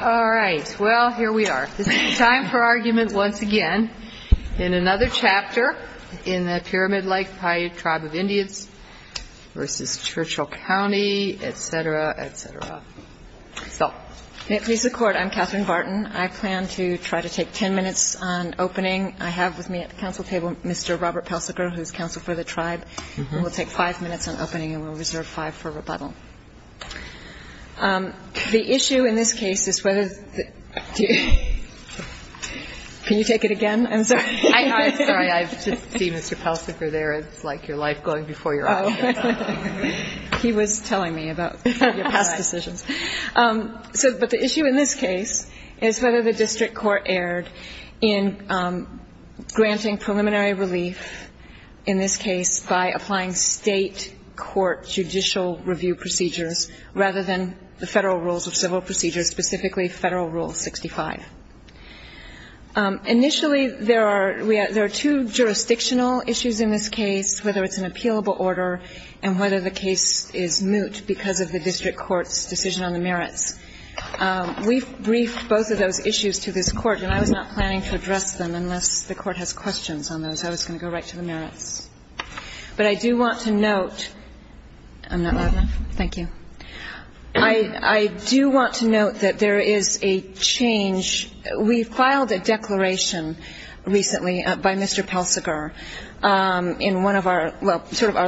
All right. Well, here we are. This is time for argument once again in another chapter in the Pyramid Lake Paiute Tribe of Indians versus Churchill County, et cetera, et cetera. So may it please the Court, I'm Catherine Barton. I plan to try to take 10 minutes on opening. I have with me at the council table Mr. Robert Pelsiker, who's counsel for the tribe. We'll take five minutes on opening and we'll reserve five for rebuttal. The issue in this case is whether the Can you take it again? I'm sorry. I'm sorry. I've just seen Mr. Pelsiker there. It's like your life going before your eyes. He was telling me about your past decisions. But the issue in this case is whether the district court erred in granting preliminary relief, in this case, by applying state court judicial review procedures, rather than the federal rules of civil procedures, specifically Federal Rule 65. Initially, there are two jurisdictional issues in this case, whether it's an appealable order and whether the case is moot because of the district court's decision on the merits. We've briefed both of those issues to this court. And I was not planning to address them unless the court has questions on those. So I was going to go right to the merits. But I do want to note that there is a change. We filed a declaration recently by Mr. Pelsiker in one of our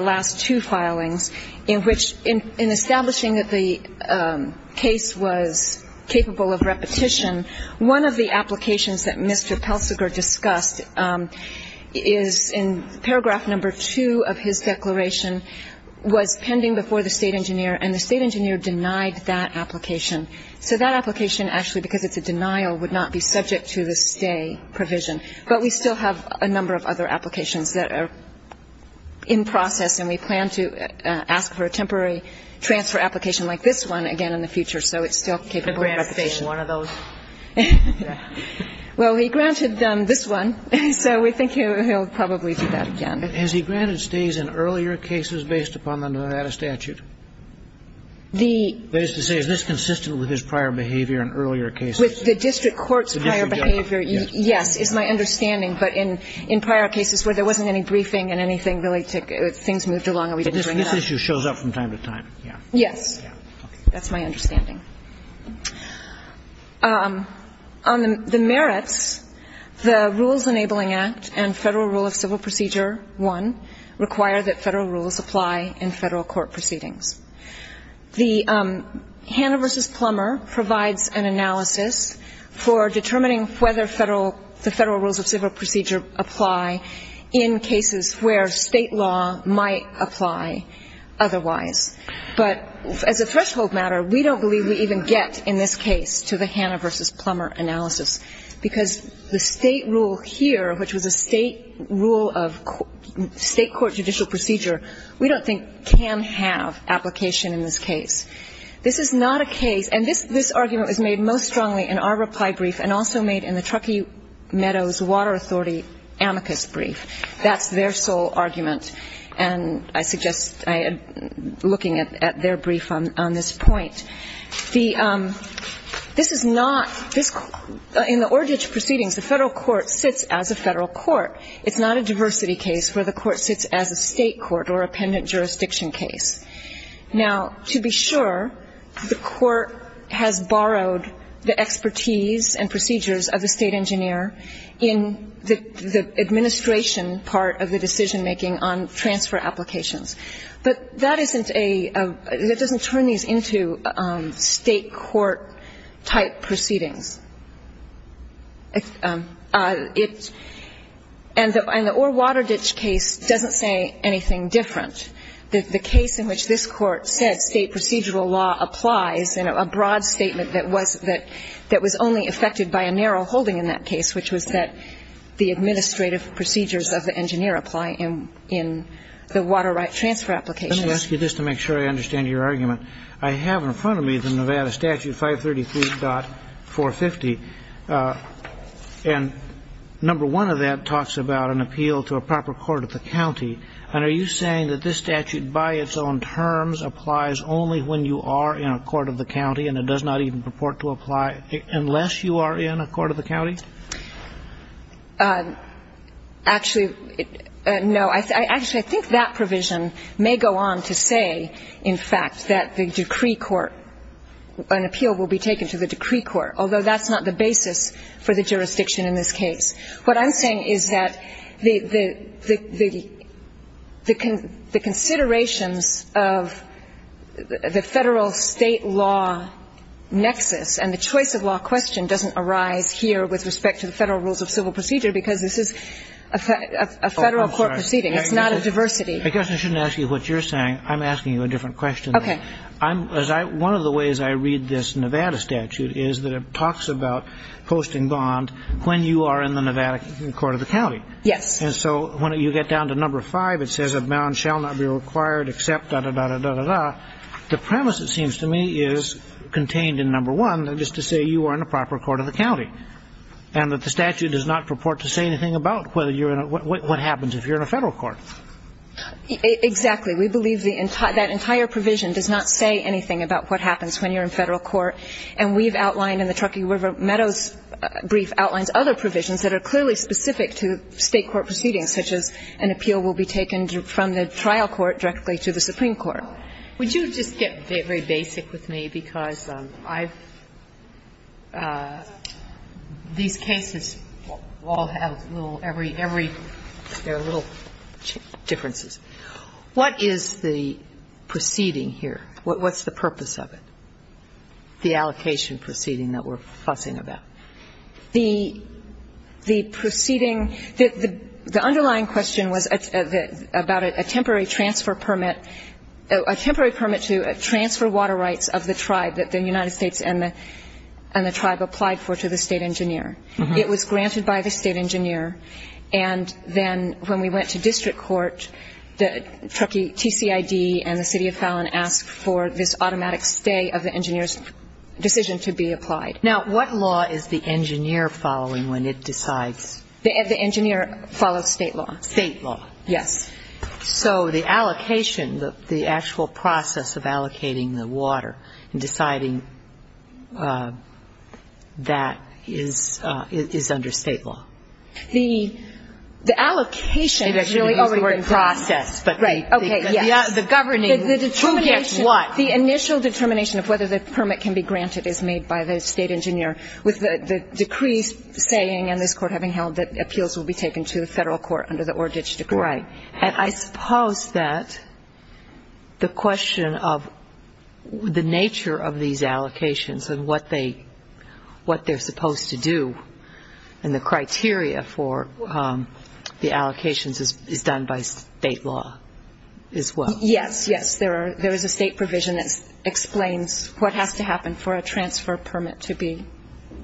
last two filings, in establishing that the case was capable of repetition. One of the applications that Mr. Pelsiker discussed is in paragraph number two of his declaration, was pending before the state engineer. And the state engineer denied that application. So that application, actually, because it's a denial, would not be subject to the stay provision. But we still have a number of other applications that are in process. And we plan to ask for a temporary transfer application like this one again in the future, so it's still capable of repetition. A grant for one of those? Well, he granted them this one, so we think he'll probably do that again. Has he granted stays in earlier cases based upon the Nevada statute? The Is this consistent with his prior behavior in earlier cases? With the district court's prior behavior, yes, is my understanding. But in prior cases where there wasn't any briefing and anything really, things moved along and we didn't bring it up. But this issue shows up from time to time, yeah. Yes. That's my understanding. On the merits, the Rules Enabling Act and Federal Rule of Civil Procedure 1 require that federal rules apply in federal court proceedings. The Hannah v. Plummer provides an analysis for determining whether the federal rules of civil procedure apply in cases where state law might apply otherwise. But as a threshold matter, we don't believe we even get, in this case, to the Hannah v. Plummer analysis because the state rule here, which was a state rule of state court judicial procedure, we don't think can have application in this case. This is not a case, and this argument was made most strongly in our reply brief and also made in the Truckee Meadows Water Authority amicus brief. That's their sole argument. And I suggest looking at their brief on this point. In the origin proceedings, the federal court sits as a federal court. It's not a diversity case where the court sits as a state court or a pendant jurisdiction case. Now, to be sure, the court has borrowed the expertise and procedures of the state engineer in the administration part of the decision-making on transfer applications. But that doesn't turn these into state court-type proceedings. And the Orr-Waterditch case doesn't say anything different. The case in which this court said state procedural law applies, a broad statement that was only affected by a narrow holding in that case, which was that the administrative procedures of the engineer apply in the water right transfer applications. Let me ask you this to make sure I understand your argument. I have in front of me the Nevada statute 533.450. And number one of that talks about an appeal to a proper court of the county. And are you saying that this statute, by its own terms, applies only when you are in a court of the county and it does not even purport to apply unless you are in a court of the county? Actually, no. Actually, I think that provision may go on to say, in fact, that the decree court, an appeal will be taken to the decree court, although that's not the basis for the jurisdiction in this case. What I'm saying is that the considerations of the federal-state law nexus and the choice of law question doesn't arise here with respect to the federal rules of civil procedure, because this is a federal court proceeding. It's not a diversity. I guess I shouldn't ask you what you're saying. I'm asking you a different question. OK. One of the ways I read this Nevada statute is that it talks about posting bond when you are in the Nevada court of the county. Yes. So when you get down to number five, it says a bond shall not be required except da-da-da-da-da-da. The premise, it seems to me, is contained in number one, just to say you are in the proper court of the county, and that the statute does not purport to say anything about what happens if you're in a federal court. Exactly. We believe that entire provision does not say anything about what happens when you're in federal court. And we've outlined in the Truckee River Meadows brief outlines other provisions that are clearly specific to state court proceedings, such as an appeal will be taken from the trial court directly to the Supreme Court. Would you just get very basic with me? Because these cases all have little differences. What is the proceeding here? What's the purpose of it, the allocation proceeding that we're fussing about? The proceeding, the underlying question was about a temporary transfer permit, a temporary permit to transfer water rights of the tribe, that the United States and the tribe applied for to the state engineer. It was granted by the state engineer. And then when we went to district court, the Truckee TCID and the city of Fallon asked for this automatic stay of the engineer's decision to be applied. Now, what law is the engineer following when it decides? The engineer follows state law. Yes. So the allocation, the actual process of allocating the water and deciding that is under state law. The allocation is really already been done. Maybe I shouldn't use the word process. But the governing who gets what. The initial determination of whether the permit can be granted is made by the state engineer, with the decrees saying, and this court having held, that appeals will be taken to the federal court under the Ordich decree. And I suppose that the question of the nature of these allocations and what they're supposed to do and the criteria for the allocations is done by state law as well. Yes, yes. There is a state provision that explains what has to happen for a transfer permit to be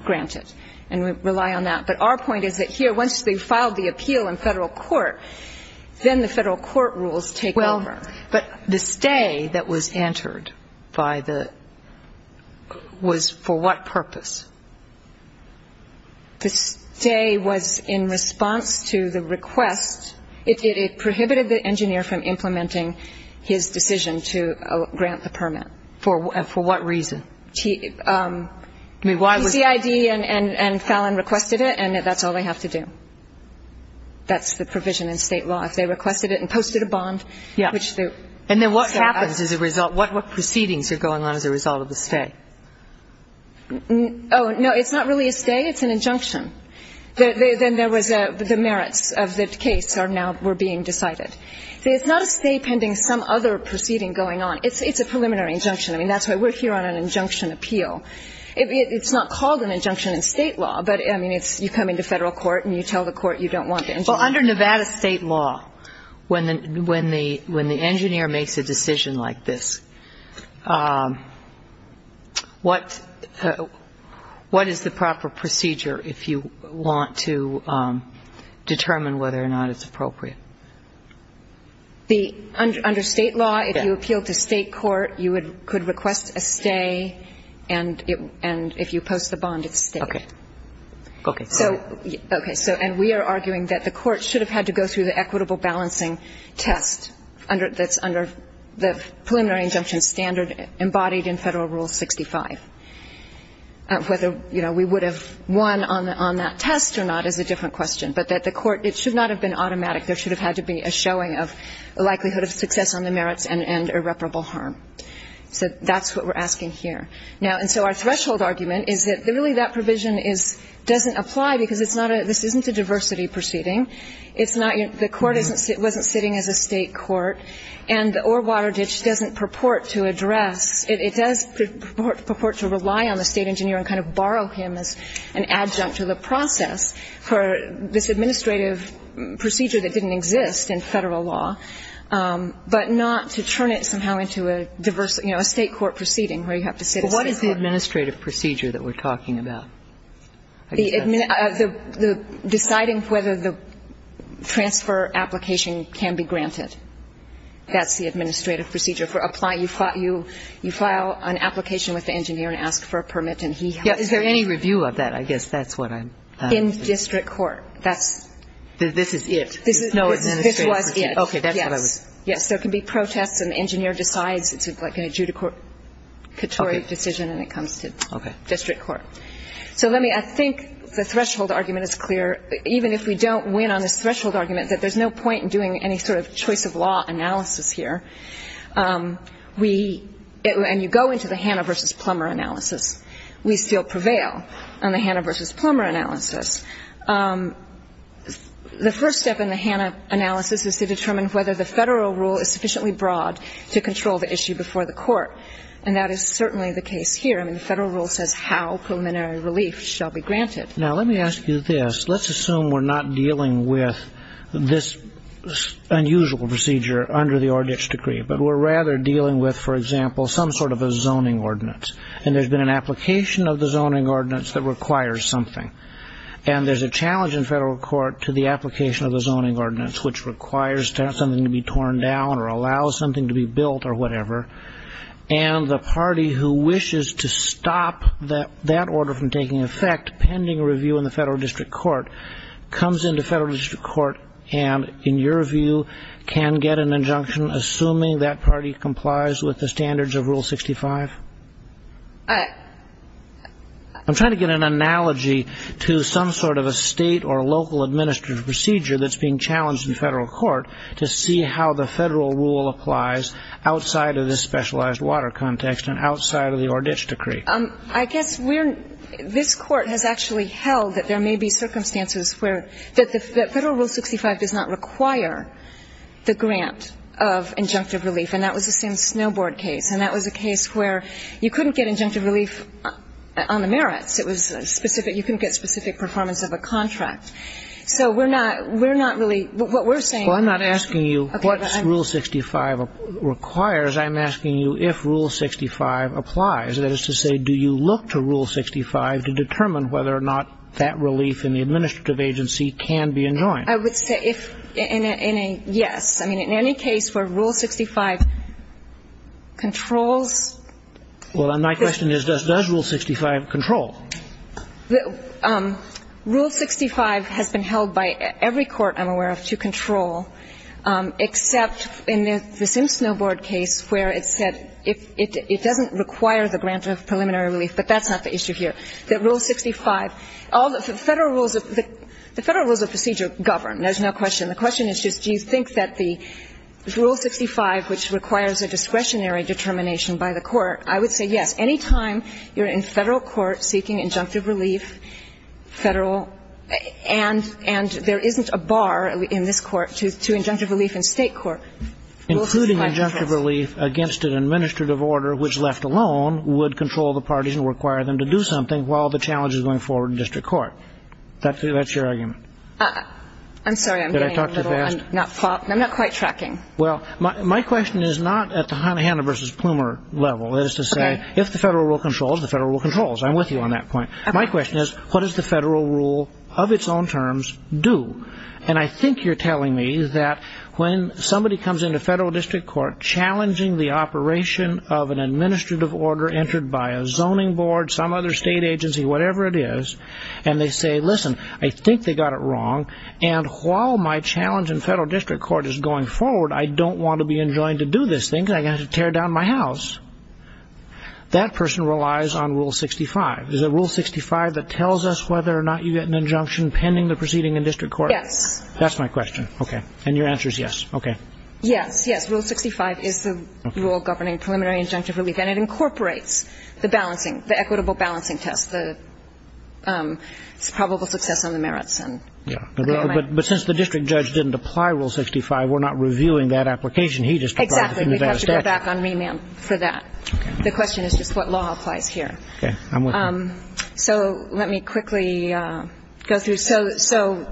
granted. And we rely on that. But our point is that here, once they filed the appeal in federal court, then the federal court rules take over. But the stay that was entered was for what purpose? The stay was in response to the request. It prohibited the engineer from implementing his decision to grant the permit. For what reason? I mean, why was it? PCID and Fallon requested it, and that's all they have to do. That's the provision in state law. If they requested it and posted a bond, which they're And then what happens as a result? What proceedings are going on as a result of the stay? Oh, no, it's not really a stay. It's an injunction. Then there was the merits of the case now were being decided. It's not a stay pending some other proceeding going on. It's a preliminary injunction. I mean, that's why we're here on an injunction appeal. It's not called an injunction in state law, but, I mean, you come into federal court and you tell the court you don't want the injunction. Well, under Nevada state law, when the engineer makes a decision like this, what is the proper procedure if you want to determine whether or not it's appropriate? Under state law, if you appeal to state court, you could request a stay. And if you post the bond, it's stay. Okay. Okay. So, and we are arguing that the court should have had to go through the equitable balancing test that's under the preliminary injunction standard embodied in Federal Rule 65. Whether, you know, we would have won on that test or not is a different question, but that the court, it should not have been automatic. There should have had to be a showing of the likelihood of success on the merits and irreparable harm. So that's what we're asking here. Now, and so our threshold argument is that really that provision is, doesn't apply because it's not a, this isn't a diversity proceeding. It's not, the court isn't, wasn't sitting as a state court. And the Orr-Waterditch doesn't purport to address, it does purport to rely on the state engineer and kind of borrow him as an adjunct to the process for this administrative procedure that didn't exist in federal law. But not to turn it somehow into a diverse, you know, a state court proceeding where you have to sit as a state court. But what is the administrative procedure that we're talking about? The deciding whether the transfer application can be granted. That's the administrative procedure for applying. You file an application with the engineer and ask for a permit and he helps her. Is there any review of that? I guess that's what I'm asking. In district court. That's. This is it. There's no administrative procedure. This was it. Okay. That's what I was. Yes. Yes. There can be protests and the engineer decides it's like an adjudicatory decision when it comes to district court. So let me, I think the threshold argument is clear. Even if we don't win on this threshold argument that there's no point in doing any sort of choice of law analysis here, we, and you go into the Hanna versus Plummer analysis, we still prevail on the Hanna versus Plummer analysis. The first step in the Hanna analysis is to determine whether the federal rule is sufficiently broad to control the issue before the court. And that is certainly the case here. I mean, the federal rule says how preliminary relief shall be granted. Now, let me ask you this. Let's assume we're not dealing with this unusual procedure under the ordinance decree, but we're rather dealing with, for example, some sort of a zoning ordinance and there's been an application of the zoning ordinance that requires something and there's a challenge in federal court to the application of the zoning ordinance, which requires to have something to be torn down or allow something to be built or whatever, and the party who wishes to stop that, that order from taking effect pending review in the federal district court comes into federal district court and in your view can get an injunction assuming that party complies with the standards of rule 65. I'm trying to get an analogy to some sort of a state or local administrative procedure that's being challenged in federal court to see how the federal rule applies outside of this specialized water context and outside of the ordinance decree. I guess we're, this court has actually held that there may be circumstances where, that the federal rule 65 does not require the grant of injunctive relief. And that was the same snowboard case. And that was a case where you couldn't get injunctive relief on the merits. It was a specific, you couldn't get specific performance of a contract. So we're not, we're not really, what we're saying. Well, I'm not asking you what rule 65 requires. I'm asking you if rule 65 applies, that is to say, do you look to rule 65 to determine whether or not that relief in the administrative agency can be enjoined? I would say if, in a, in a, yes. I mean, in any case where rule 65 controls. Well, then my question is, does, does rule 65 control? Rule 65 has been held by every court I'm aware of to control, except in the Simpson snowboard case where it said it, it, it doesn't require the grant of preliminary relief, but that's not the issue here. That rule 65, all the federal rules of, the federal rules of procedure govern. There's no question. The question is just, do you think that the rule 65, which requires a discretionary determination by the court, I would say yes. Anytime you're in federal court seeking injunctive relief, federal, and, and there isn't a bar in this court to, to injunctive relief in state court. Including injunctive relief against an administrative order, which left alone would control the parties and require them to do something while the challenge is going forward in district court. That's, that's your argument. I'm sorry, I'm getting a little, I'm not, I'm not quite tracking. Well, my, my question is not at the Hannah versus Plumer level. That is to say, if the federal rule controls, the federal rule controls. I'm with you on that point. My question is, what does the federal rule of its own terms do? And I think you're telling me that when somebody comes into federal district court, challenging the operation of an administrative order entered by a zoning board, some other state agency, whatever it is, and they say, listen, I think they got it wrong. And while my challenge in federal district court is going forward, I don't want to be down my house. That person relies on rule 65. Is it rule 65 that tells us whether or not you get an injunction pending the proceeding in district court? Yes. That's my question. Okay. And your answer is yes. Okay. Yes. Yes. Rule 65 is the rule governing preliminary injunctive relief, and it incorporates the balancing, the equitable balancing test, the probable success on the merits and. Yeah. But since the district judge didn't apply rule 65, we're not reviewing that application. He just. Exactly. And we'd have to go back on remand for that. Okay. The question is just what law applies here. Okay. I'm with you. So let me quickly go through. So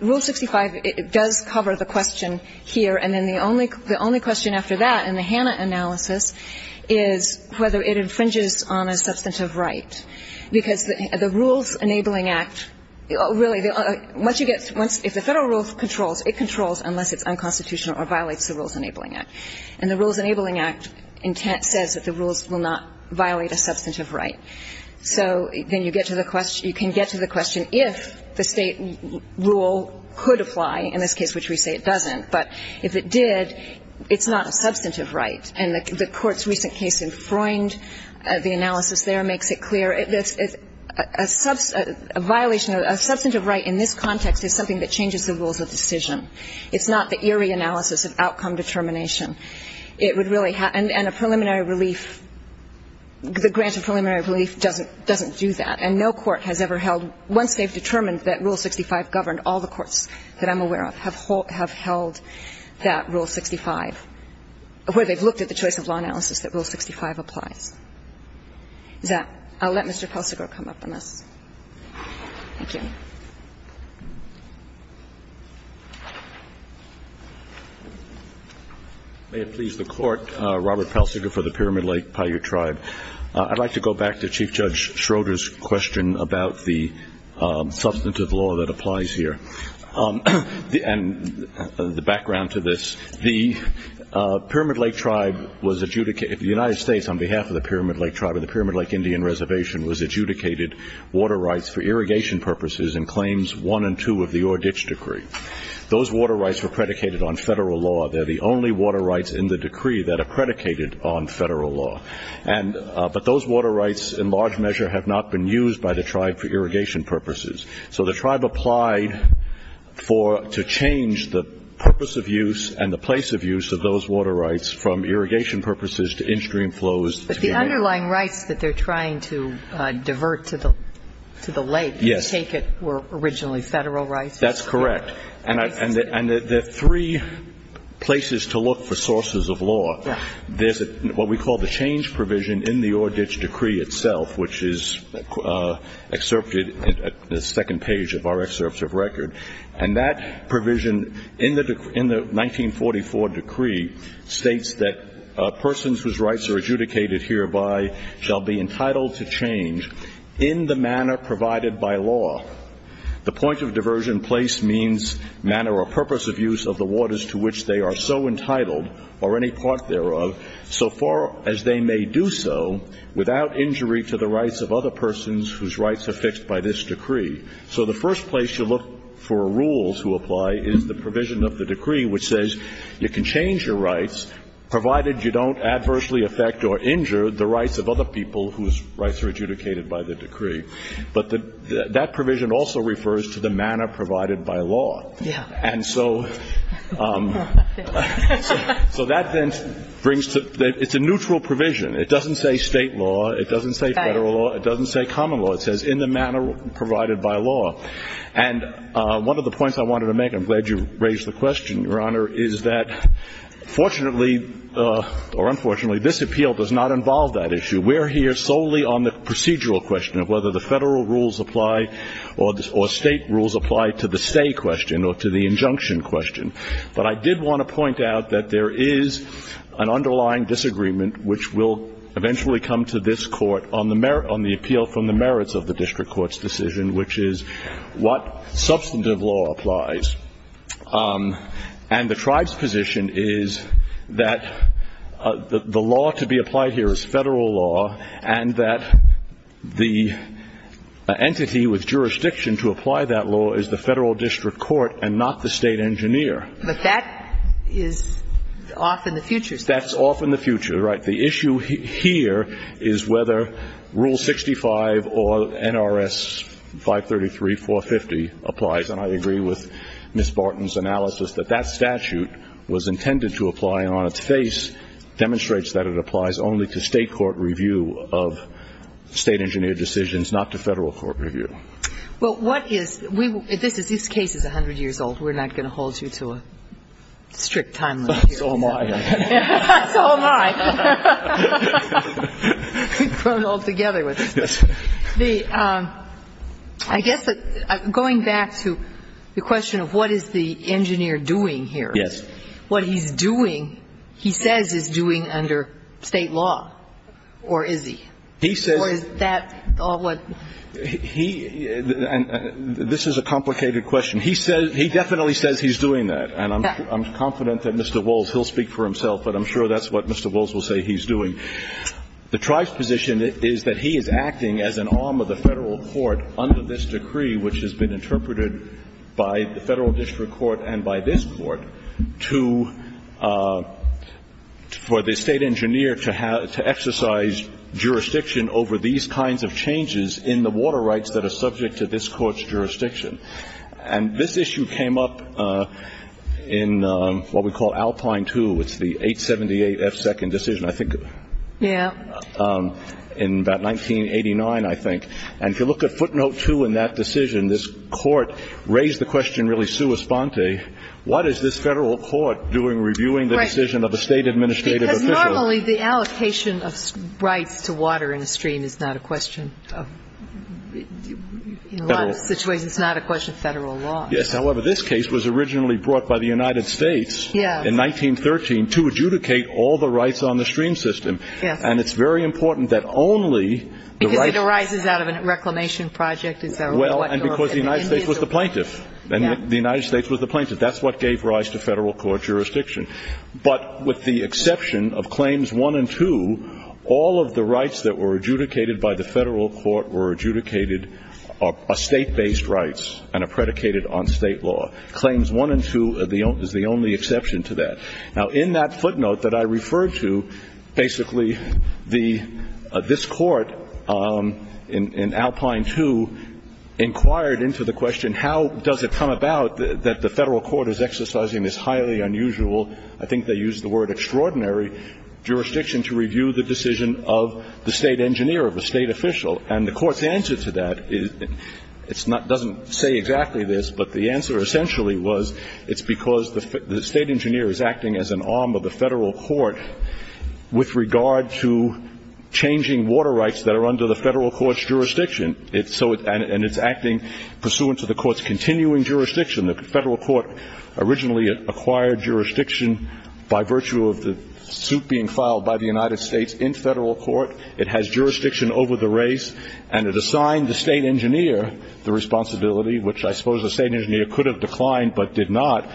rule 65, it does cover the question here, and then the only question after that in the HANA analysis is whether it infringes on a substantive right. Because the Rules Enabling Act, really, once you get, if the federal rule controls, it controls unless it's unconstitutional or violates the Rules Enabling Act. And the Rules Enabling Act says that the rules will not violate a substantive right. So then you get to the question, you can get to the question if the State rule could apply, in this case, which we say it doesn't. But if it did, it's not a substantive right. And the Court's recent case in Freund, the analysis there makes it clear. It's not the eerie analysis of outcome determination. It would really have, and a preliminary relief, the grant of preliminary relief doesn't do that. And no court has ever held, once they've determined that Rule 65 governed, all the courts that I'm aware of have held that Rule 65, where they've looked at the choice of law analysis that Rule 65 applies. Is that, I'll let Mr. Pelsiger come up on this. Thank you. May it please the court, Robert Pelsiger for the Pyramid Lake Paiute Tribe. I'd like to go back to Chief Judge Schroeder's question about the substantive law that applies here, and the background to this. The Pyramid Lake Tribe was adjudicated, the United States, on behalf of the Pyramid Lake Tribe and the Pyramid Lake Indian Reservation was adjudicated water rights for irrigation purposes in Claims 1 and 2 of the Oreditch Decree. Those water rights were predicated on federal law. They're the only water rights in the decree that are predicated on federal law. And, but those water rights, in large measure, have not been used by the tribe for irrigation purposes. So the tribe applied for, to change the purpose of use and the place of use of those water rights from irrigation purposes to in-stream flows. But the underlying rights that they're trying to divert to the lake, you take it were originally federal rights? That's correct. And there are three places to look for sources of law. There's what we call the change provision in the Oreditch Decree itself, which is excerpted at the second page of our excerpt of record. And that provision in the 1944 decree states that persons whose rights are adjudicated hereby shall be entitled to change in the manner provided by law. The point of diversion place means manner or purpose of use of the waters to which they are so entitled, or any part thereof, so far as they may do so without injury to the rights of other persons whose rights are fixed by this decree. So the first place you look for rules who apply is the provision of the decree which says you can change your Adversely affect or injure the rights of other people whose rights are adjudicated by the decree, but that provision also refers to the manner provided by law. And so that then brings to, it's a neutral provision. It doesn't say state law, it doesn't say federal law, it doesn't say common law. It says in the manner provided by law. And one of the points I wanted to make, I'm glad you raised the question, your honor, is that fortunately or unfortunately, this appeal does not involve that issue. We're here solely on the procedural question of whether the federal rules apply or state rules apply to the say question or to the injunction question. But I did want to point out that there is an underlying disagreement which will eventually come to this court on the appeal from the merits of the district court's decision, which is what substantive law applies. And the tribe's position is that the law to be applied here is federal law and that the entity with jurisdiction to apply that law is the federal district court and not the state engineer. But that is often the future. That's often the future, right. The issue here is whether Rule 65 or NRS 533, 450 applies. And I agree with Ms. Barton's analysis that that statute was intended to apply on its face, demonstrates that it applies only to state court review of state engineer decisions, not to federal court review. Well, what is we will, this is, this case is 100 years old. We're not going to hold you to a strict time limit. So am I. So am I. We've grown old together with this. The, I guess going back to the question of what is the engineer doing here. Yes. What he's doing, he says is doing under state law, or is he? He says. Or is that all what. He, and this is a complicated question. He says, he definitely says he's doing that. And I'm confident that Mr. Walls, he'll speak for himself, but I'm sure that's what Mr. Walls will say he's doing. The tribe's position is that he is acting as an arm of the federal court under this decree, which has been interpreted by the federal district court and by this court. To, for the state engineer to have, to exercise jurisdiction over these kinds of changes in the water rights that are subject to this court's jurisdiction. And this issue came up in what we call Alpine 2, it's the 878 F second decision. Yeah. In about 1989, I think. And if you look at footnote two in that decision, this court raised the question really sui sponte, what is this federal court doing reviewing the decision of a state administrative official. Because normally the allocation of rights to water in a stream is not a question of, in a lot of situations it's not a question of federal law. Yes, however, this case was originally brought by the United States. Yes. In 1913 to adjudicate all the rights on the stream system. Yes. And it's very important that only. Because it arises out of a reclamation project, is that what you're. Well, and because the United States was the plaintiff. And the United States was the plaintiff. That's what gave rise to federal court jurisdiction. But with the exception of claims one and two, all of the rights that were adjudicated by the federal court were adjudicated are state based rights. And are predicated on state law. Claims one and two is the only exception to that. Now, in that footnote that I referred to, basically this court in Alpine two. Inquired into the question, how does it come about that the federal court is exercising this highly unusual, I think they use the word extraordinary, jurisdiction to review the decision of the state engineer, of a state official. And the court's answer to that, it doesn't say exactly this, but the answer essentially was it's because the state engineer is acting as an arm of the federal court with regard to changing water rights that are under the federal court's jurisdiction, and it's acting pursuant to the court's continuing jurisdiction, the federal court originally acquired jurisdiction by virtue of the suit being filed by the United States in federal court. It has jurisdiction over the race, and it assigned the state engineer the responsibility, which I suppose the state engineer could have declined but did not,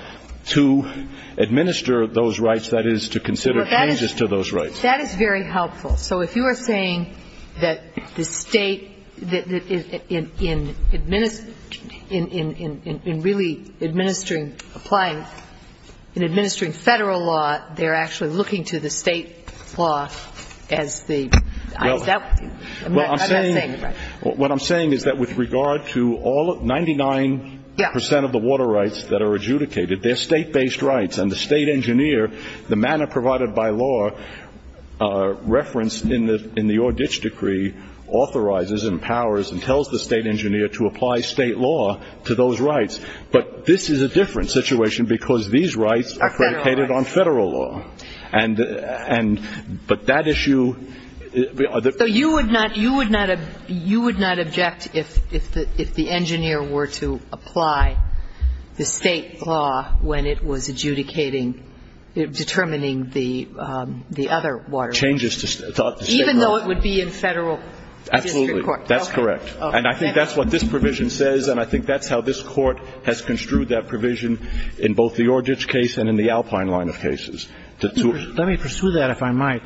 to administer those rights, that is, to consider changes to those rights. That is very helpful. So if you are saying that the state, in really administering, applying, in administering federal law, they're actually looking to the state law as the, is that, I'm not saying it right. What I'm saying is that with regard to all of, 99% of the water rights that are adjudicated, they're state-based rights, and the state engineer, the manner provided by law, referenced in the Ordich Decree, authorizes and powers and tells the state engineer to apply state law to those rights. But this is a different situation because these rights are predicated on federal law. And, but that issue, the- You would not, you would not, you would not object if, if the, if the engineer were to apply the state law when it was adjudicating, determining the, the other water rights. Changes to state law. Even though it would be in federal district court. Absolutely, that's correct. And I think that's what this provision says, and I think that's how this court has construed that provision in both the Ordich case and in the Alpine line of cases. The two. Let me pursue that if I might.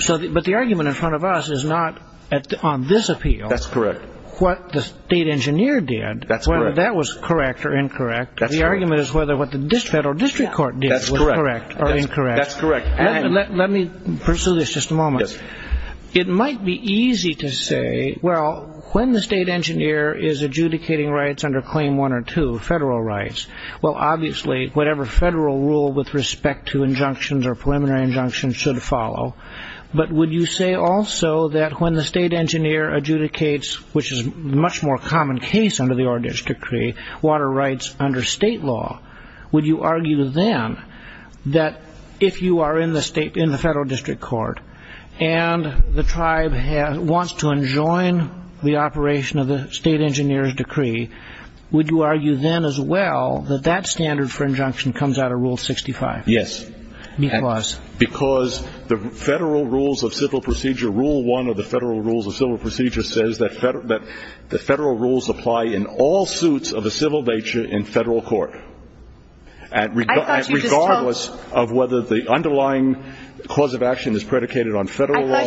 So the, but the argument in front of us is not at, on this appeal. That's correct. What the state engineer did. That's correct. Whether that was correct or incorrect. That's correct. The argument is whether what the dis, federal district court did was correct or incorrect. That's correct. And let, let me pursue this just a moment. Yes. It might be easy to say, well, when the state engineer is adjudicating rights under claim one or two, federal rights, well, obviously, whatever federal rule with respect to injunctions or preliminary injunctions should follow. But would you say also that when the state engineer adjudicates, which is much more common case under the Ordich decree, water rights under state law, would you argue then that if you are in the state, in the federal district court, and the tribe has, wants to enjoin the operation of the state engineer's decree, would you argue then as well that that standard for injunction comes out of rule 65? Yes. Because? Because the federal rules of civil procedure, rule one of the federal rules of civil procedure says that federal, that the federal rules apply in all suits of a civil nature in federal court. I thought you just told me. state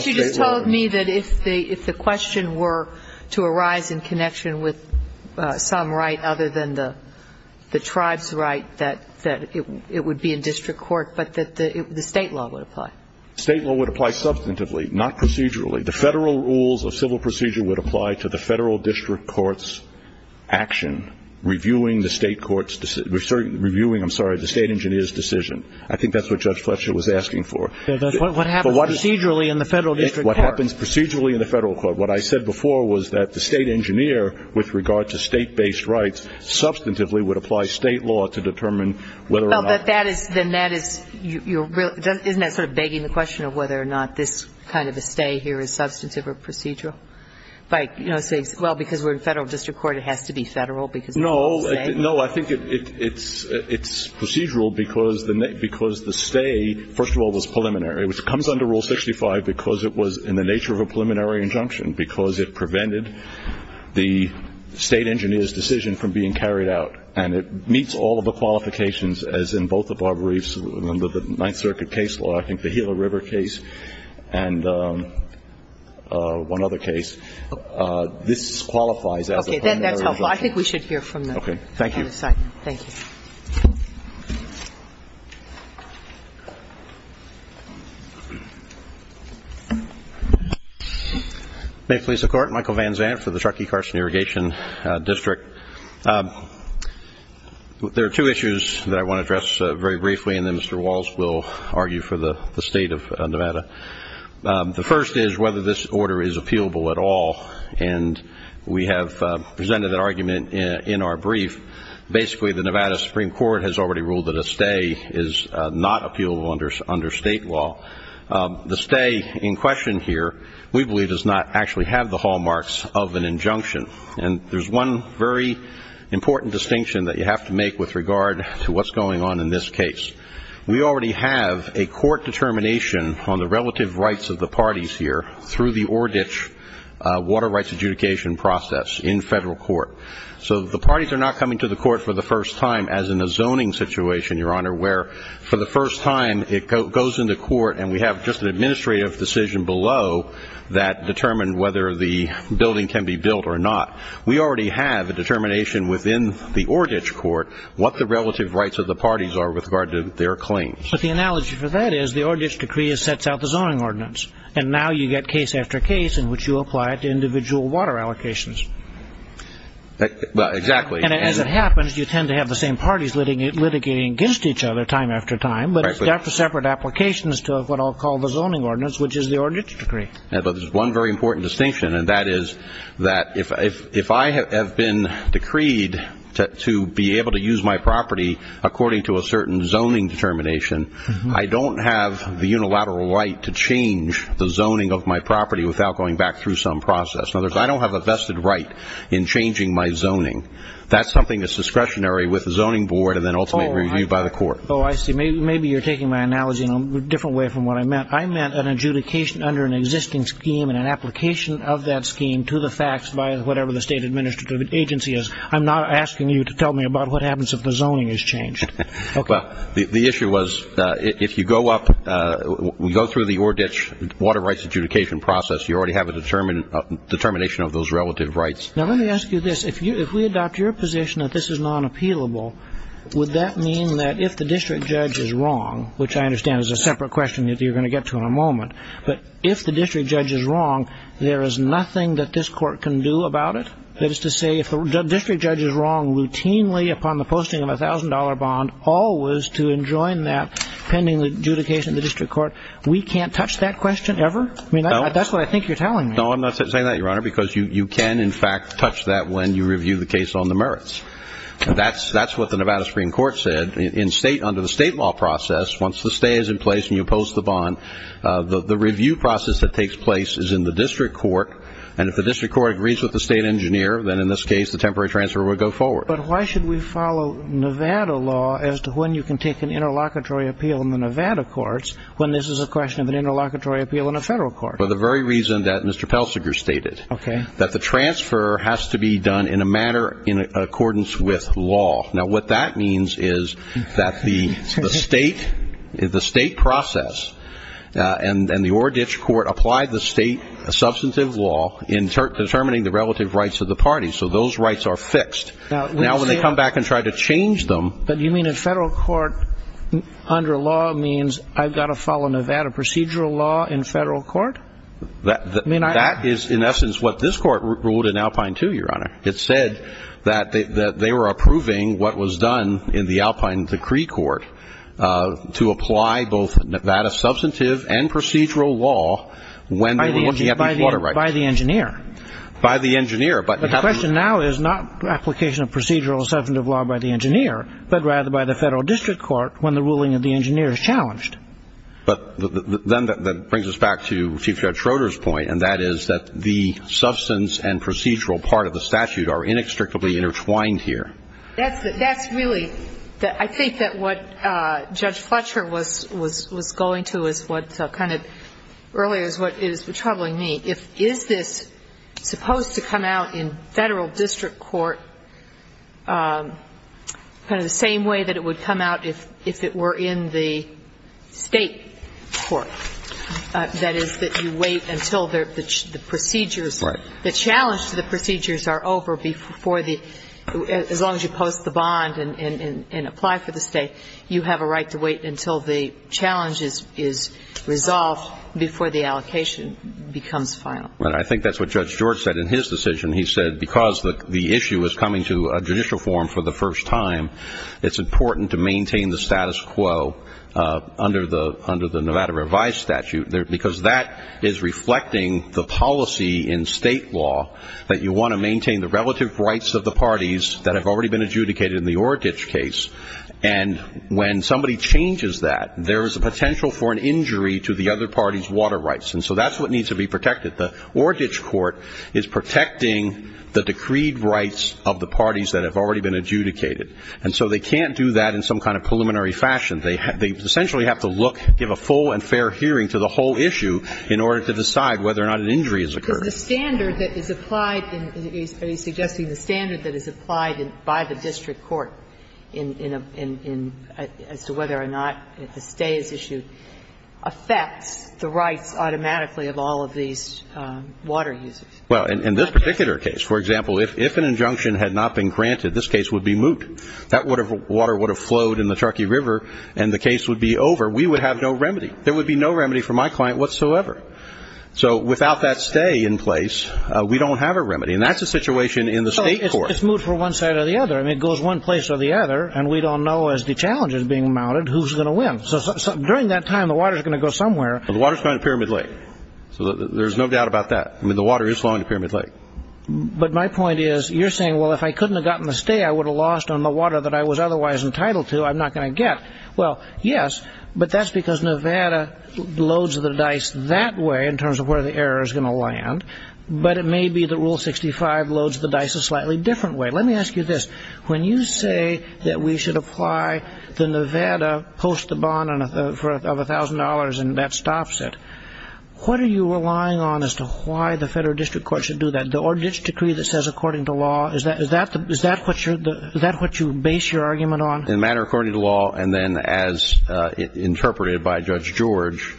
law. It struck me that if the question were to arise in connection with some right other than the tribe's right, that it would be in district court, but that the state law would apply. State law would apply substantively, not procedurally. The federal rules of civil procedure would apply to the federal district court's action reviewing the state court's, reviewing, I'm sorry, the state engineer's decision. I think that's what Judge Fletcher was asking for. What happens procedurally in the federal district court? What happens procedurally in the federal court? What I said before was that the state engineer, with regard to state-based rights, substantively would apply state law to determine whether or not. Well, but that is, then that is, you're, isn't that sort of begging the question of whether or not this kind of a stay here is substantive or procedural? By, you know, saying, well, because we're in federal district court, it has to be federal because we're all the same? No, I think it's procedural because the stay, first of all, was preliminary. It comes under Rule 65 because it was in the nature of a preliminary injunction, because it prevented the state engineer's decision from being carried out. And it meets all of the qualifications as in both of our briefs. Remember the Ninth Circuit case law, I think the Gila River case, and one other case. This qualifies as a preliminary injunction. Okay, then that's helpful. I think we should hear from them. Okay, thank you. Thank you. May it please the Court, Michael Van Zandt for the Truckee Carson Irrigation District. There are two issues that I want to address very briefly, and then Mr. Walls will argue for the State of Nevada. The first is whether this order is appealable at all. And we have presented that argument in our brief. Basically, the Nevada Supreme Court has already ruled that a stay is not appealable under state law. The stay in question here we believe does not actually have the hallmarks of an injunction. And there's one very important distinction that you have to make with regard to what's going on in this case. We already have a court determination on the relative rights of the parties here through the Ordish water rights adjudication process in federal court. So the parties are not coming to the court for the first time as in a zoning situation, Your Honor, where for the first time it goes into court and we have just an administrative decision below that determines whether the building can be built or not. We already have a determination within the Ordish court what the relative rights of the parties are with regard to their claims. But the analogy for that is the Ordish decree sets out the zoning ordinance, and now you get case after case in which you apply it to individual water allocations. Exactly. And as it happens, you tend to have the same parties litigating against each other time after time, but it's separate applications to what I'll call the zoning ordinance, which is the Ordish decree. There's one very important distinction, and that is that if I have been decreed to be able to use my property according to a certain zoning determination, I don't have the unilateral right to change the zoning of my property without going back through some process. In other words, I don't have a vested right in changing my zoning. That's something that's discretionary with the zoning board and then ultimately reviewed by the court. Oh, I see. Maybe you're taking my analogy in a different way from what I meant. I meant an adjudication under an existing scheme and an application of that scheme to the facts by whatever the state administrative agency is. I'm not asking you to tell me about what happens if the zoning is changed. Okay. Well, the issue was if you go through the Ordish water rights adjudication process, you already have a determination of those relative rights. Now, let me ask you this. If we adopt your position that this is non-appealable, would that mean that if the district judge is wrong, which I understand is a separate question that you're going to get to in a moment, but if the district judge is wrong, there is nothing that this court can do about it? That is to say, if the district judge is wrong routinely upon the posting of a $1,000 bond, always to enjoin that pending the adjudication of the district court, we can't touch that question ever? That's what I think you're telling me. No, I'm not saying that, Your Honor, because you can, in fact, touch that when you review the case on the merits. That's what the Nevada Supreme Court said. Under the state law process, once the stay is in place and you post the bond, the review process that takes place is in the district court, and if the district court agrees with the state engineer, then in this case the temporary transfer would go forward. But why should we follow Nevada law as to when you can take an interlocutory appeal in the Nevada courts when this is a question of an interlocutory appeal in a federal court? For the very reason that Mr. Pelsiger stated. Okay. That the transfer has to be done in a manner in accordance with law. Now, what that means is that the state process and the Orr-Ditch Court apply the state substantive law in determining the relative rights of the parties, so those rights are fixed. Now, when they come back and try to change them. But you mean a federal court under law means I've got to follow Nevada procedural law in federal court? That is, in essence, what this court ruled in Alpine 2, Your Honor. It said that they were approving what was done in the Alpine decree court to apply both Nevada substantive and procedural law when they were looking at these water rights. By the engineer. By the engineer. But the question now is not application of procedural substantive law by the engineer, but rather by the federal district court when the ruling of the engineer is challenged. But then that brings us back to Chief Judge Schroeder's point, and that is that the substance and procedural part of the statute are inextricably intertwined here. That's really, I think that what Judge Fletcher was going to is what kind of earlier is what is troubling me. Is this supposed to come out in federal district court kind of the same way that it would come out if it were in the state court? That is, that you wait until the procedures, the challenge to the procedures are over before the, as long as you post the bond and apply for the state, you have a right to wait until the challenge is resolved before the allocation becomes final. I think that's what Judge George said in his decision. He said because the issue is coming to a judicial forum for the first time, it's important to maintain the status quo under the Nevada Revised Statute, because that is reflecting the policy in state law that you want to maintain the relative rights of the parties that have already been adjudicated in the Orr-Ditch case. And when somebody changes that, there is a potential for an injury to the other party's water rights. And I think that the Orr-Ditch Court is protecting the decreed rights of the parties that have already been adjudicated. And so they can't do that in some kind of preliminary fashion. They essentially have to look, give a full and fair hearing to the whole issue in order to decide whether or not an injury has occurred. Because the standard that is applied, are you suggesting the standard that is applied by the district court as to whether or not a stay is issued affects the rights automatically of all of these water users? Well, in this particular case, for example, if an injunction had not been granted, this case would be moot. That water would have flowed in the Truckee River, and the case would be over. We would have no remedy. There would be no remedy for my client whatsoever. So without that stay in place, we don't have a remedy. And that's a situation in the state court. So it's moot for one side or the other. I mean, it goes one place or the other, and we don't know as the challenge is being mounted who's going to win. So during that time, the water is going to go somewhere. The water is going to Pyramid Lake. So there's no doubt about that. I mean, the water is flowing to Pyramid Lake. But my point is, you're saying, well, if I couldn't have gotten the stay, I would have lost on the water that I was otherwise entitled to, I'm not going to get. Well, yes, but that's because Nevada loads the dice that way in terms of where the error is going to land. But it may be that Rule 65 loads the dice a slightly different way. Let me ask you this. When you say that we should apply the Nevada post the bond of $1,000 and that stops it, what are you relying on as to why the Federal District Court should do that? The Ordinance Decree that says according to law, is that what you base your argument on? In a manner according to law, and then as interpreted by Judge George,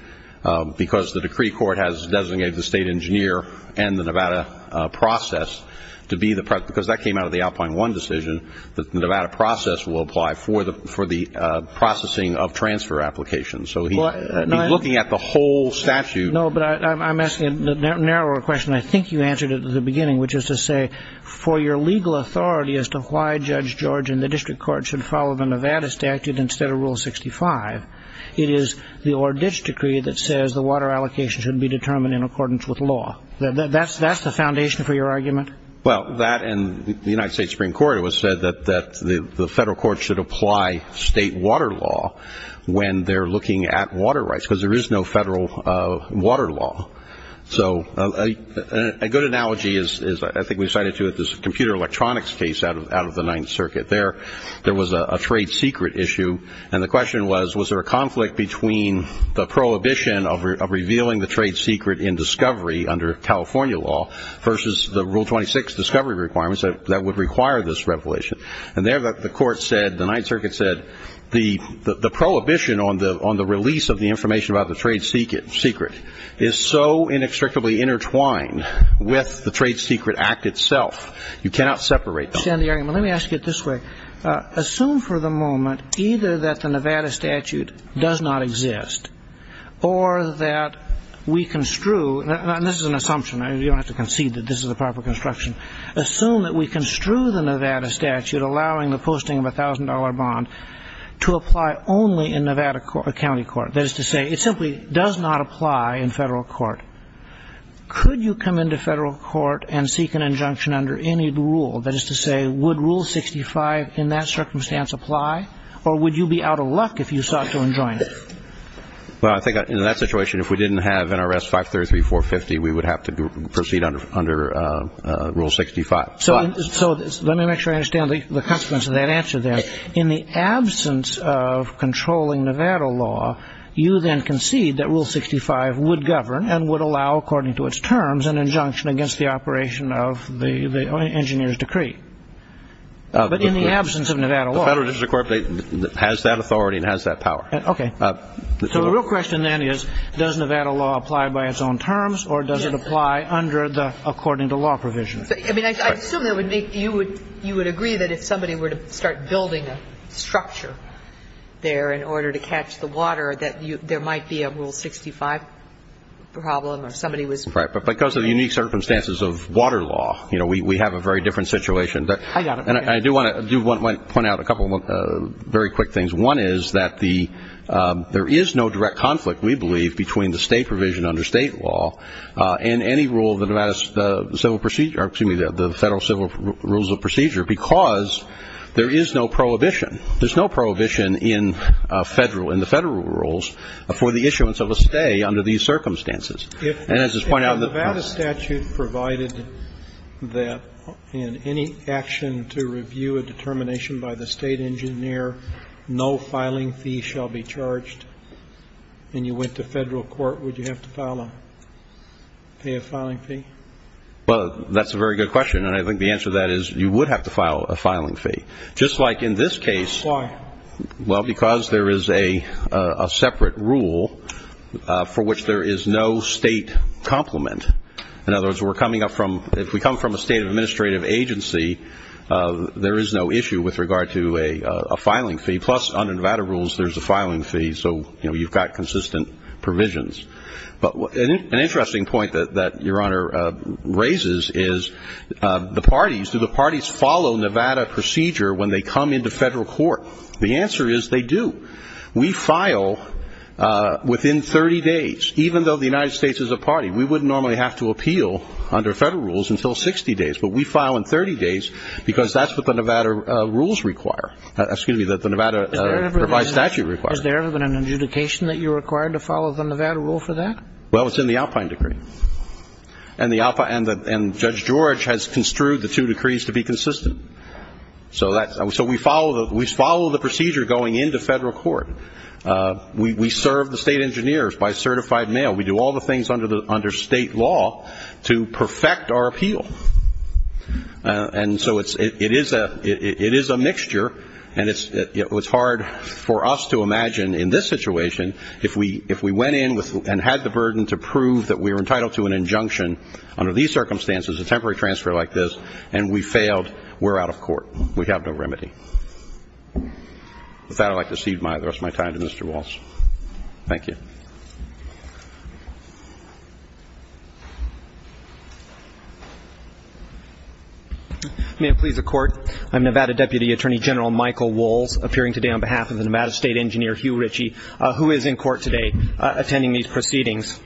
because the decree court has designated the state engineer and the Nevada process to be the – because that came out of the Alpine One decision, the Nevada process will apply for the processing of transfer applications. So he's looking at the whole statute. No, but I'm asking a narrower question. I think you answered it at the beginning, which is to say for your legal authority as to why Judge George and the District Court should follow the Nevada statute instead of Rule 65, it is the Ordinance Decree that says the water allocation should be determined in accordance with law. That's the foundation for your argument? Well, that and the United States Supreme Court, it was said that the federal court should apply state water law when they're looking at water rights, because there is no federal water law. So a good analogy is I think we cited to it this computer electronics case out of the Ninth Circuit. There was a trade secret issue, and the question was, was there a conflict between the prohibition of revealing the trade secret in discovery under California law versus the Rule 26 discovery requirements that would require this revelation? And there the court said, the Ninth Circuit said, the prohibition on the release of the information about the trade secret is so inextricably intertwined with the Trade Secret Act itself, you cannot separate them. Let me ask you it this way. Assume for the moment either that the Nevada statute does not exist or that we construe, and this is an assumption. You don't have to concede that this is the proper construction. Assume that we construe the Nevada statute allowing the posting of a $1,000 bond to apply only in Nevada county court. That is to say, it simply does not apply in federal court. Could you come into federal court and seek an injunction under any rule, that is to say, would Rule 65 in that circumstance apply, or would you be out of luck if you sought to enjoin it? Well, I think in that situation, if we didn't have NRS 533450, we would have to proceed under Rule 65. So let me make sure I understand the consequence of that answer then. In the absence of controlling Nevada law, you then concede that Rule 65 would govern and would allow, according to its terms, an injunction against the operation of the engineer's decree. But in the absence of Nevada law. The Federal District Court has that authority and has that power. Okay. So the real question then is, does Nevada law apply by its own terms, or does it apply under the, according to law provisions? I mean, I assume you would agree that if somebody were to start building a structure there in order to catch the water, that there might be a Rule 65 problem, or somebody was. Right. But because of the unique circumstances of water law, you know, we have a very different situation. I got it. And I do want to point out a couple of very quick things. One is that there is no direct conflict, we believe, between the State provision under State law and any rule of the Nevada Civil Procedure, or excuse me, the Federal Civil Rules of Procedure, because there is no prohibition. There's no prohibition in the Federal rules for the issuance of a stay under these circumstances. And as is pointed out in the past. If the statute provided that in any action to review a determination by the State engineer, no filing fee shall be charged, and you went to Federal court, would you have to pay a filing fee? Well, that's a very good question, and I think the answer to that is you would have to file a filing fee. Just like in this case. Why? Well, because there is a separate rule for which there is no State complement. In other words, we're coming up from, if we come from a State administrative agency, there is no issue with regard to a filing fee. Plus, under Nevada rules, there's a filing fee. So, you know, you've got consistent provisions. But an interesting point that Your Honor raises is the parties, do the parties follow Nevada procedure when they come into Federal court? The answer is they do. We file within 30 days, even though the United States is a party. We wouldn't normally have to appeal under Federal rules until 60 days, but we file in 30 days because that's what the Nevada rules require. Excuse me, the Nevada revised statute requires. Has there ever been an adjudication that you're required to follow the Nevada rule for that? Well, it's in the Alpine decree. And Judge George has construed the two decrees to be consistent. So we follow the procedure going into Federal court. We serve the State engineers by certified mail. We do all the things under State law to perfect our appeal. And so it is a mixture, and it's hard for us to imagine in this situation, if we went in and had the burden to prove that we were entitled to an injunction under these circumstances, a temporary transfer like this, and we failed, we're out of court. We have no remedy. With that, I'd like to cede the rest of my time to Mr. Walsh. Thank you. May it please the Court. I'm Nevada Deputy Attorney General Michael Walsh, appearing today on behalf of the Nevada State Engineer Hugh Ritchie, who is in court today attending these proceedings.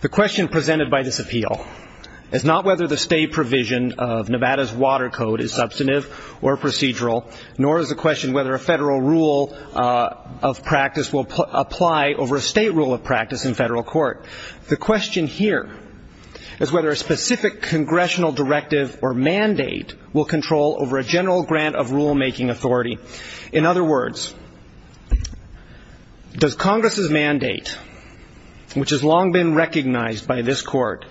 The question presented by this appeal is not whether the State provision of Nevada's water code is substantive or procedural, nor is the question whether a Federal rule of practice will apply over a State rule of practice in Federal court. The question here is whether a specific congressional directive or mandate will control over a general grant of rulemaking authority. In other words, does Congress's mandate, which has long been recognized by this court,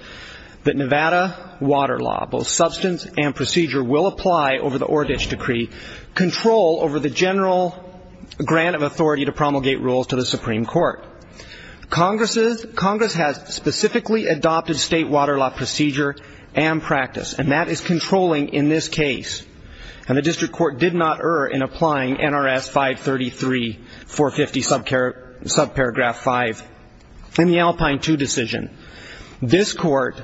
that Nevada water law, both substance and procedure, will apply over the Ordish Decree, control over the general grant of authority to promulgate rules to the Supreme Court? Congress has specifically adopted State water law procedure and practice, and that is controlling in this case. And the district court did not err in applying NRS 533, 450, subparagraph 5. In the Alpine 2 decision, this court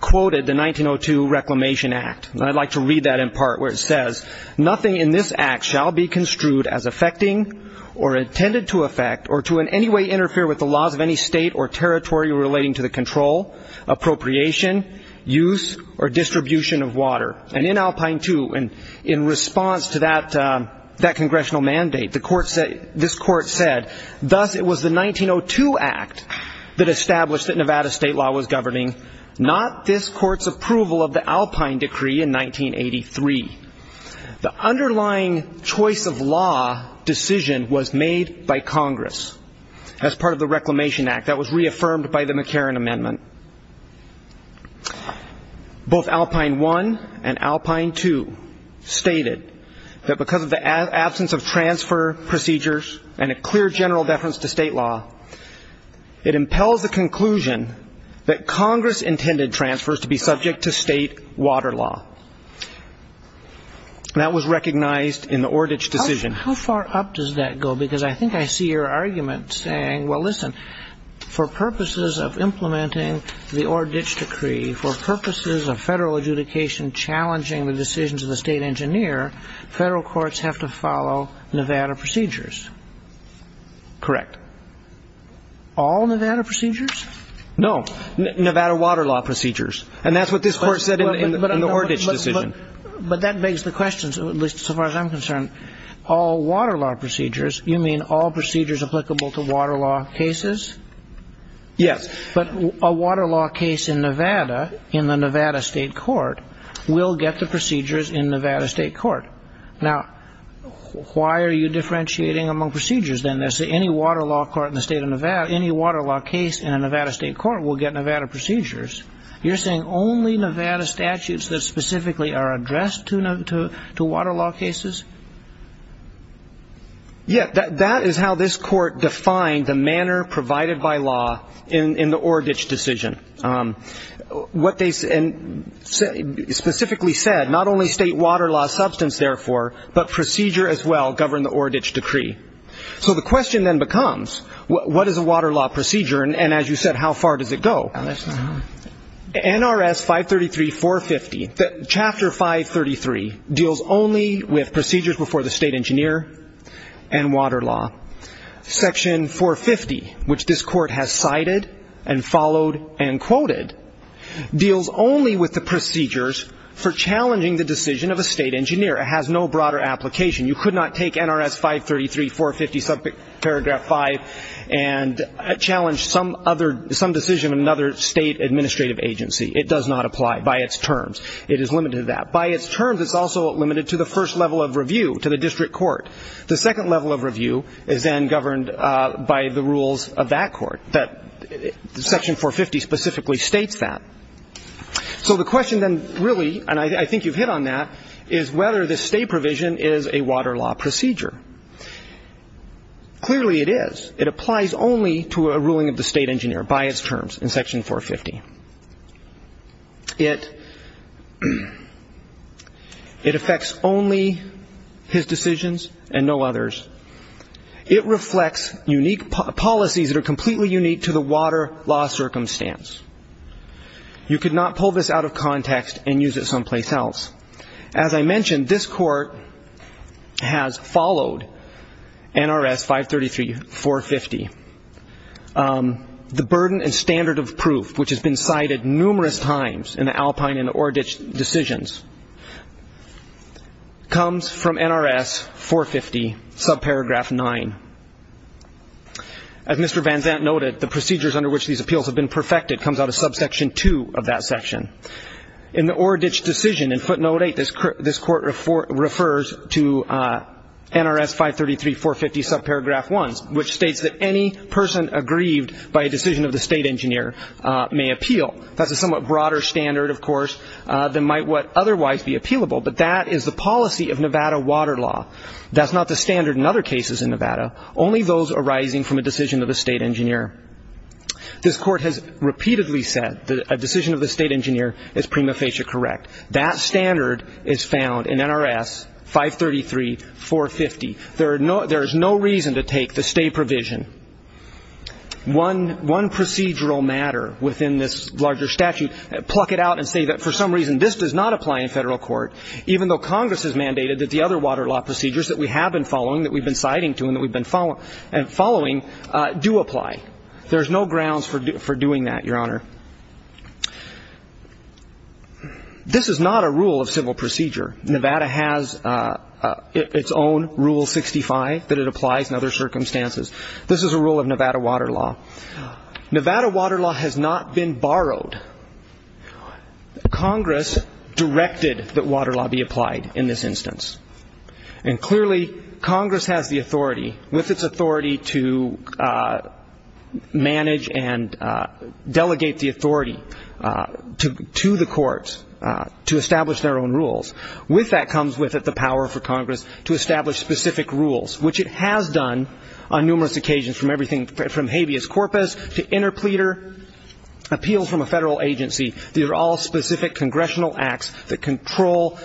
quoted the 1902 Reclamation Act, and I'd like to read that in part where it says, Nothing in this Act shall be construed as affecting, or intended to affect, or to in any way interfere with the laws of any State or territory relating to the control, appropriation, use, or distribution of water. And in Alpine 2, in response to that congressional mandate, this court said, Thus it was the 1902 Act that established that Nevada State law was governing, not this court's approval of the Alpine Decree in 1983. The underlying choice of law decision was made by Congress as part of the Reclamation Act. That was reaffirmed by the McCarran Amendment. Both Alpine 1 and Alpine 2 stated that because of the absence of transfer procedures and a clear general deference to State law, it impels the conclusion that Congress intended transfers to be subject to State water law. That was recognized in the Ordich decision. How far up does that go? Because I think I see your argument saying, well, listen, for purposes of implementing the Ordich Decree, for purposes of Federal adjudication challenging the decisions of the State engineer, Federal courts have to follow Nevada procedures. Correct. All Nevada procedures? No. Nevada water law procedures. And that's what this Court said in the Ordich decision. But that begs the question, at least so far as I'm concerned, all water law procedures, you mean all procedures applicable to water law cases? Yes. But a water law case in Nevada, in the Nevada State court, will get the procedures in Nevada State court. Now, why are you differentiating among procedures? Any water law case in a Nevada State court will get Nevada procedures. You're saying only Nevada statutes that specifically are addressed to water law cases? Yes. That is how this Court defined the manner provided by law in the Ordich decision. What they specifically said, not only State water law substance, therefore, but procedure as well govern the Ordich Decree. So the question then becomes, what is a water law procedure, and as you said, how far does it go? NRS 533.450, Chapter 533, deals only with procedures before the State engineer and water law. Section 450, which this Court has cited and followed and quoted, deals only with the procedures for challenging the decision of a State engineer. It has no broader application. You could not take NRS 533.450, Paragraph 5, and challenge some decision of another State administrative agency. It does not apply by its terms. It is limited to that. By its terms, it's also limited to the first level of review, to the district court. The second level of review is then governed by the rules of that court. Section 450 specifically states that. So the question then really, and I think you've hit on that, is whether the State provision is a water law procedure. Clearly it is. It applies only to a ruling of the State engineer by its terms in Section 450. It affects only his decisions and no others. It reflects unique policies that are completely unique to the water law circumstance. You could not pull this out of context and use it someplace else. As I mentioned, this Court has followed NRS 533.450. The burden and standard of proof, which has been cited numerous times in the Alpine and Oradich decisions, comes from NRS 450, Subparagraph 9. As Mr. Van Zant noted, the procedures under which these appeals have been perfected comes out of Subsection 2 of that section. In the Oradich decision in footnote 8, this Court refers to NRS 533.450, Subparagraph 1, which states that any person aggrieved by a decision of the State engineer may appeal. That's a somewhat broader standard, of course, than might otherwise be appealable, but that is the policy of Nevada water law. That's not the standard in other cases in Nevada, only those arising from a decision of a State engineer. This Court has repeatedly said that a decision of the State engineer is prima facie correct. That standard is found in NRS 533.450. There is no reason to take the State provision. One procedural matter within this larger statute, pluck it out and say that for some reason this does not apply in federal court, even though Congress has mandated that the other water law procedures that we have been following, that we've been citing to and that we've been following, do apply. There's no grounds for doing that, Your Honor. This is not a rule of civil procedure. Nevada has its own Rule 65 that it applies in other circumstances. This is a rule of Nevada water law. Nevada water law has not been borrowed. Congress directed that water law be applied in this instance, and clearly Congress has the authority, with its authority to manage and delegate the authority to the courts to establish their own rules. With that comes with it the power for Congress to establish specific rules, which it has done on numerous occasions, from everything from habeas corpus to interpleader, appeals from a federal agency. These are all specific congressional acts that control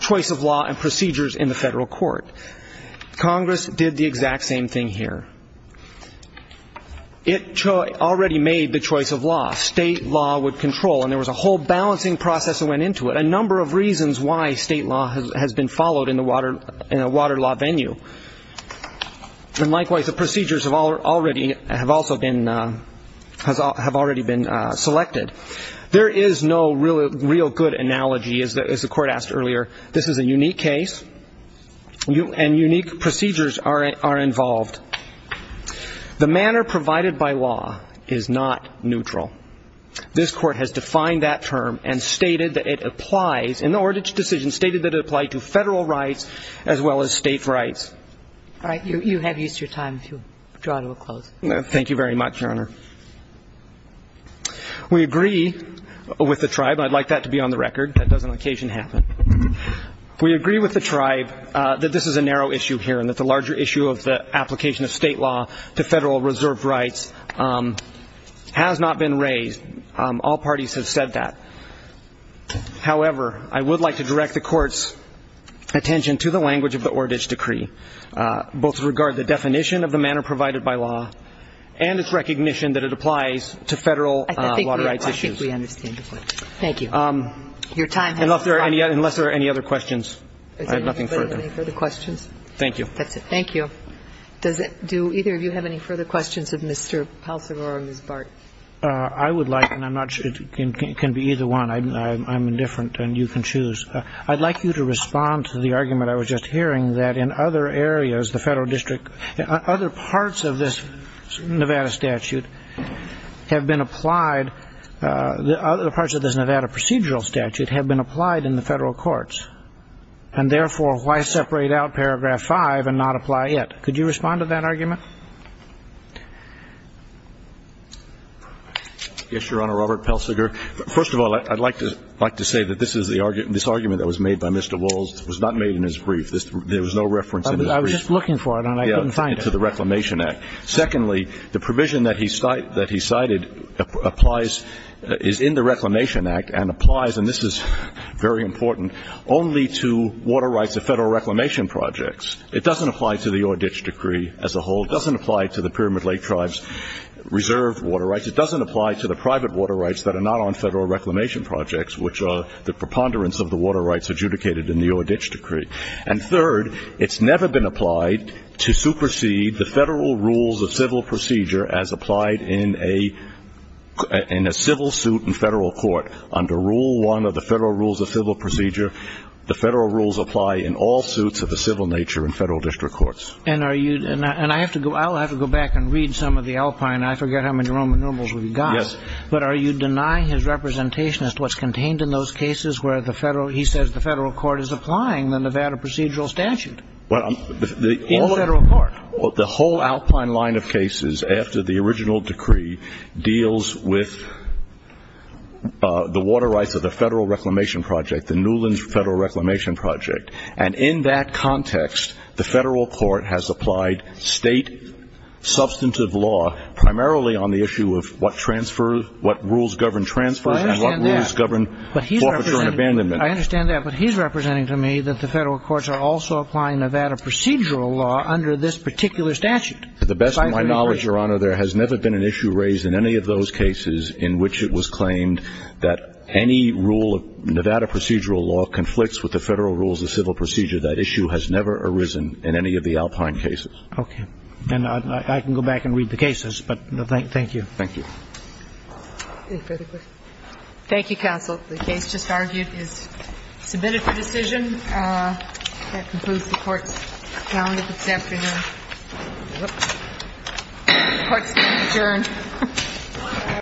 choice of law and procedures in the federal court. Congress did the exact same thing here. It already made the choice of law. State law would control, and there was a whole balancing process that went into it, a number of reasons why state law has been followed in a water law venue. And likewise, the procedures have already been selected. There is no real good analogy, as the Court asked earlier. This is a unique case, and unique procedures are involved. The manner provided by law is not neutral. This Court has defined that term and stated that it applies, in the Ordich decision, stated that it applied to federal rights as well as state rights. All right. You have used your time. If you want to draw to a close. Thank you very much, Your Honor. We agree with the tribe. I'd like that to be on the record. That doesn't occasionally happen. We agree with the tribe that this is a narrow issue here and that the larger issue of the application of state law to federal reserve rights has not been raised. All parties have said that. However, I would like to direct the Court's attention to the language of the Ordich decree, both with regard to the definition of the manner provided by law and its recognition that it applies to federal law rights issues. I think we understand. Thank you. Your time has expired. Unless there are any other questions, I have nothing further. Is there anybody with any further questions? Thank you. That's it. Thank you. Do either of you have any further questions of Mr. Palcicero or Ms. Barton? I would like, and I'm not sure it can be either one. I'm indifferent, and you can choose. I'd like you to respond to the argument I was just hearing that in other areas, the federal district, other parts of this Nevada statute have been applied, other parts of this Nevada procedural statute have been applied in the federal courts, and therefore, why separate out Paragraph 5 and not apply it? Could you respond to that argument? Yes, Your Honor. Robert Pelsiger. First of all, I'd like to say that this argument that was made by Mr. Walls was not made in his brief. There was no reference in his brief. I was just looking for it, and I couldn't find it. Yeah, to the Reclamation Act. Secondly, the provision that he cited applies, is in the Reclamation Act and applies, and this is very important, only to water rights of federal reclamation projects. It doesn't apply to the Oreditch Decree as a whole. It doesn't apply to the Pyramid Lake Tribes Reserve water rights. It doesn't apply to the private water rights that are not on federal reclamation projects, which are the preponderance of the water rights adjudicated in the Oreditch Decree. And third, it's never been applied to supersede the federal rules of civil procedure as applied in a civil suit in federal court. Under Rule 1 of the Federal Rules of Civil Procedure, the federal rules apply in all suits of the civil nature in federal district courts. And I'll have to go back and read some of the Alpine. I forget how many Roman numerals we've got. Yes. But are you denying his representation as to what's contained in those cases where he says the federal court is applying the Nevada procedural statute in federal court? Well, the whole Alpine line of cases, after the original decree, deals with the water rights of the federal reclamation project, the Newlands Federal Reclamation Project. And in that context, the federal court has applied state substantive law, primarily on the issue of what rules govern transfers and what rules govern forfeiture and abandonment. I understand that. But he's representing to me that the federal courts are also applying Nevada procedural law under this particular statute. To the best of my knowledge, Your Honor, there has never been an issue raised in any of those cases in which it was claimed that any rule of Nevada procedural law conflicts with the federal rules of civil procedure. That issue has never arisen in any of the Alpine cases. Okay. And I can go back and read the cases. But thank you. Thank you. Any further questions? Thank you, Counsel. The case just argued is submitted for decision. That concludes the court's round of this afternoon. The court is adjourned.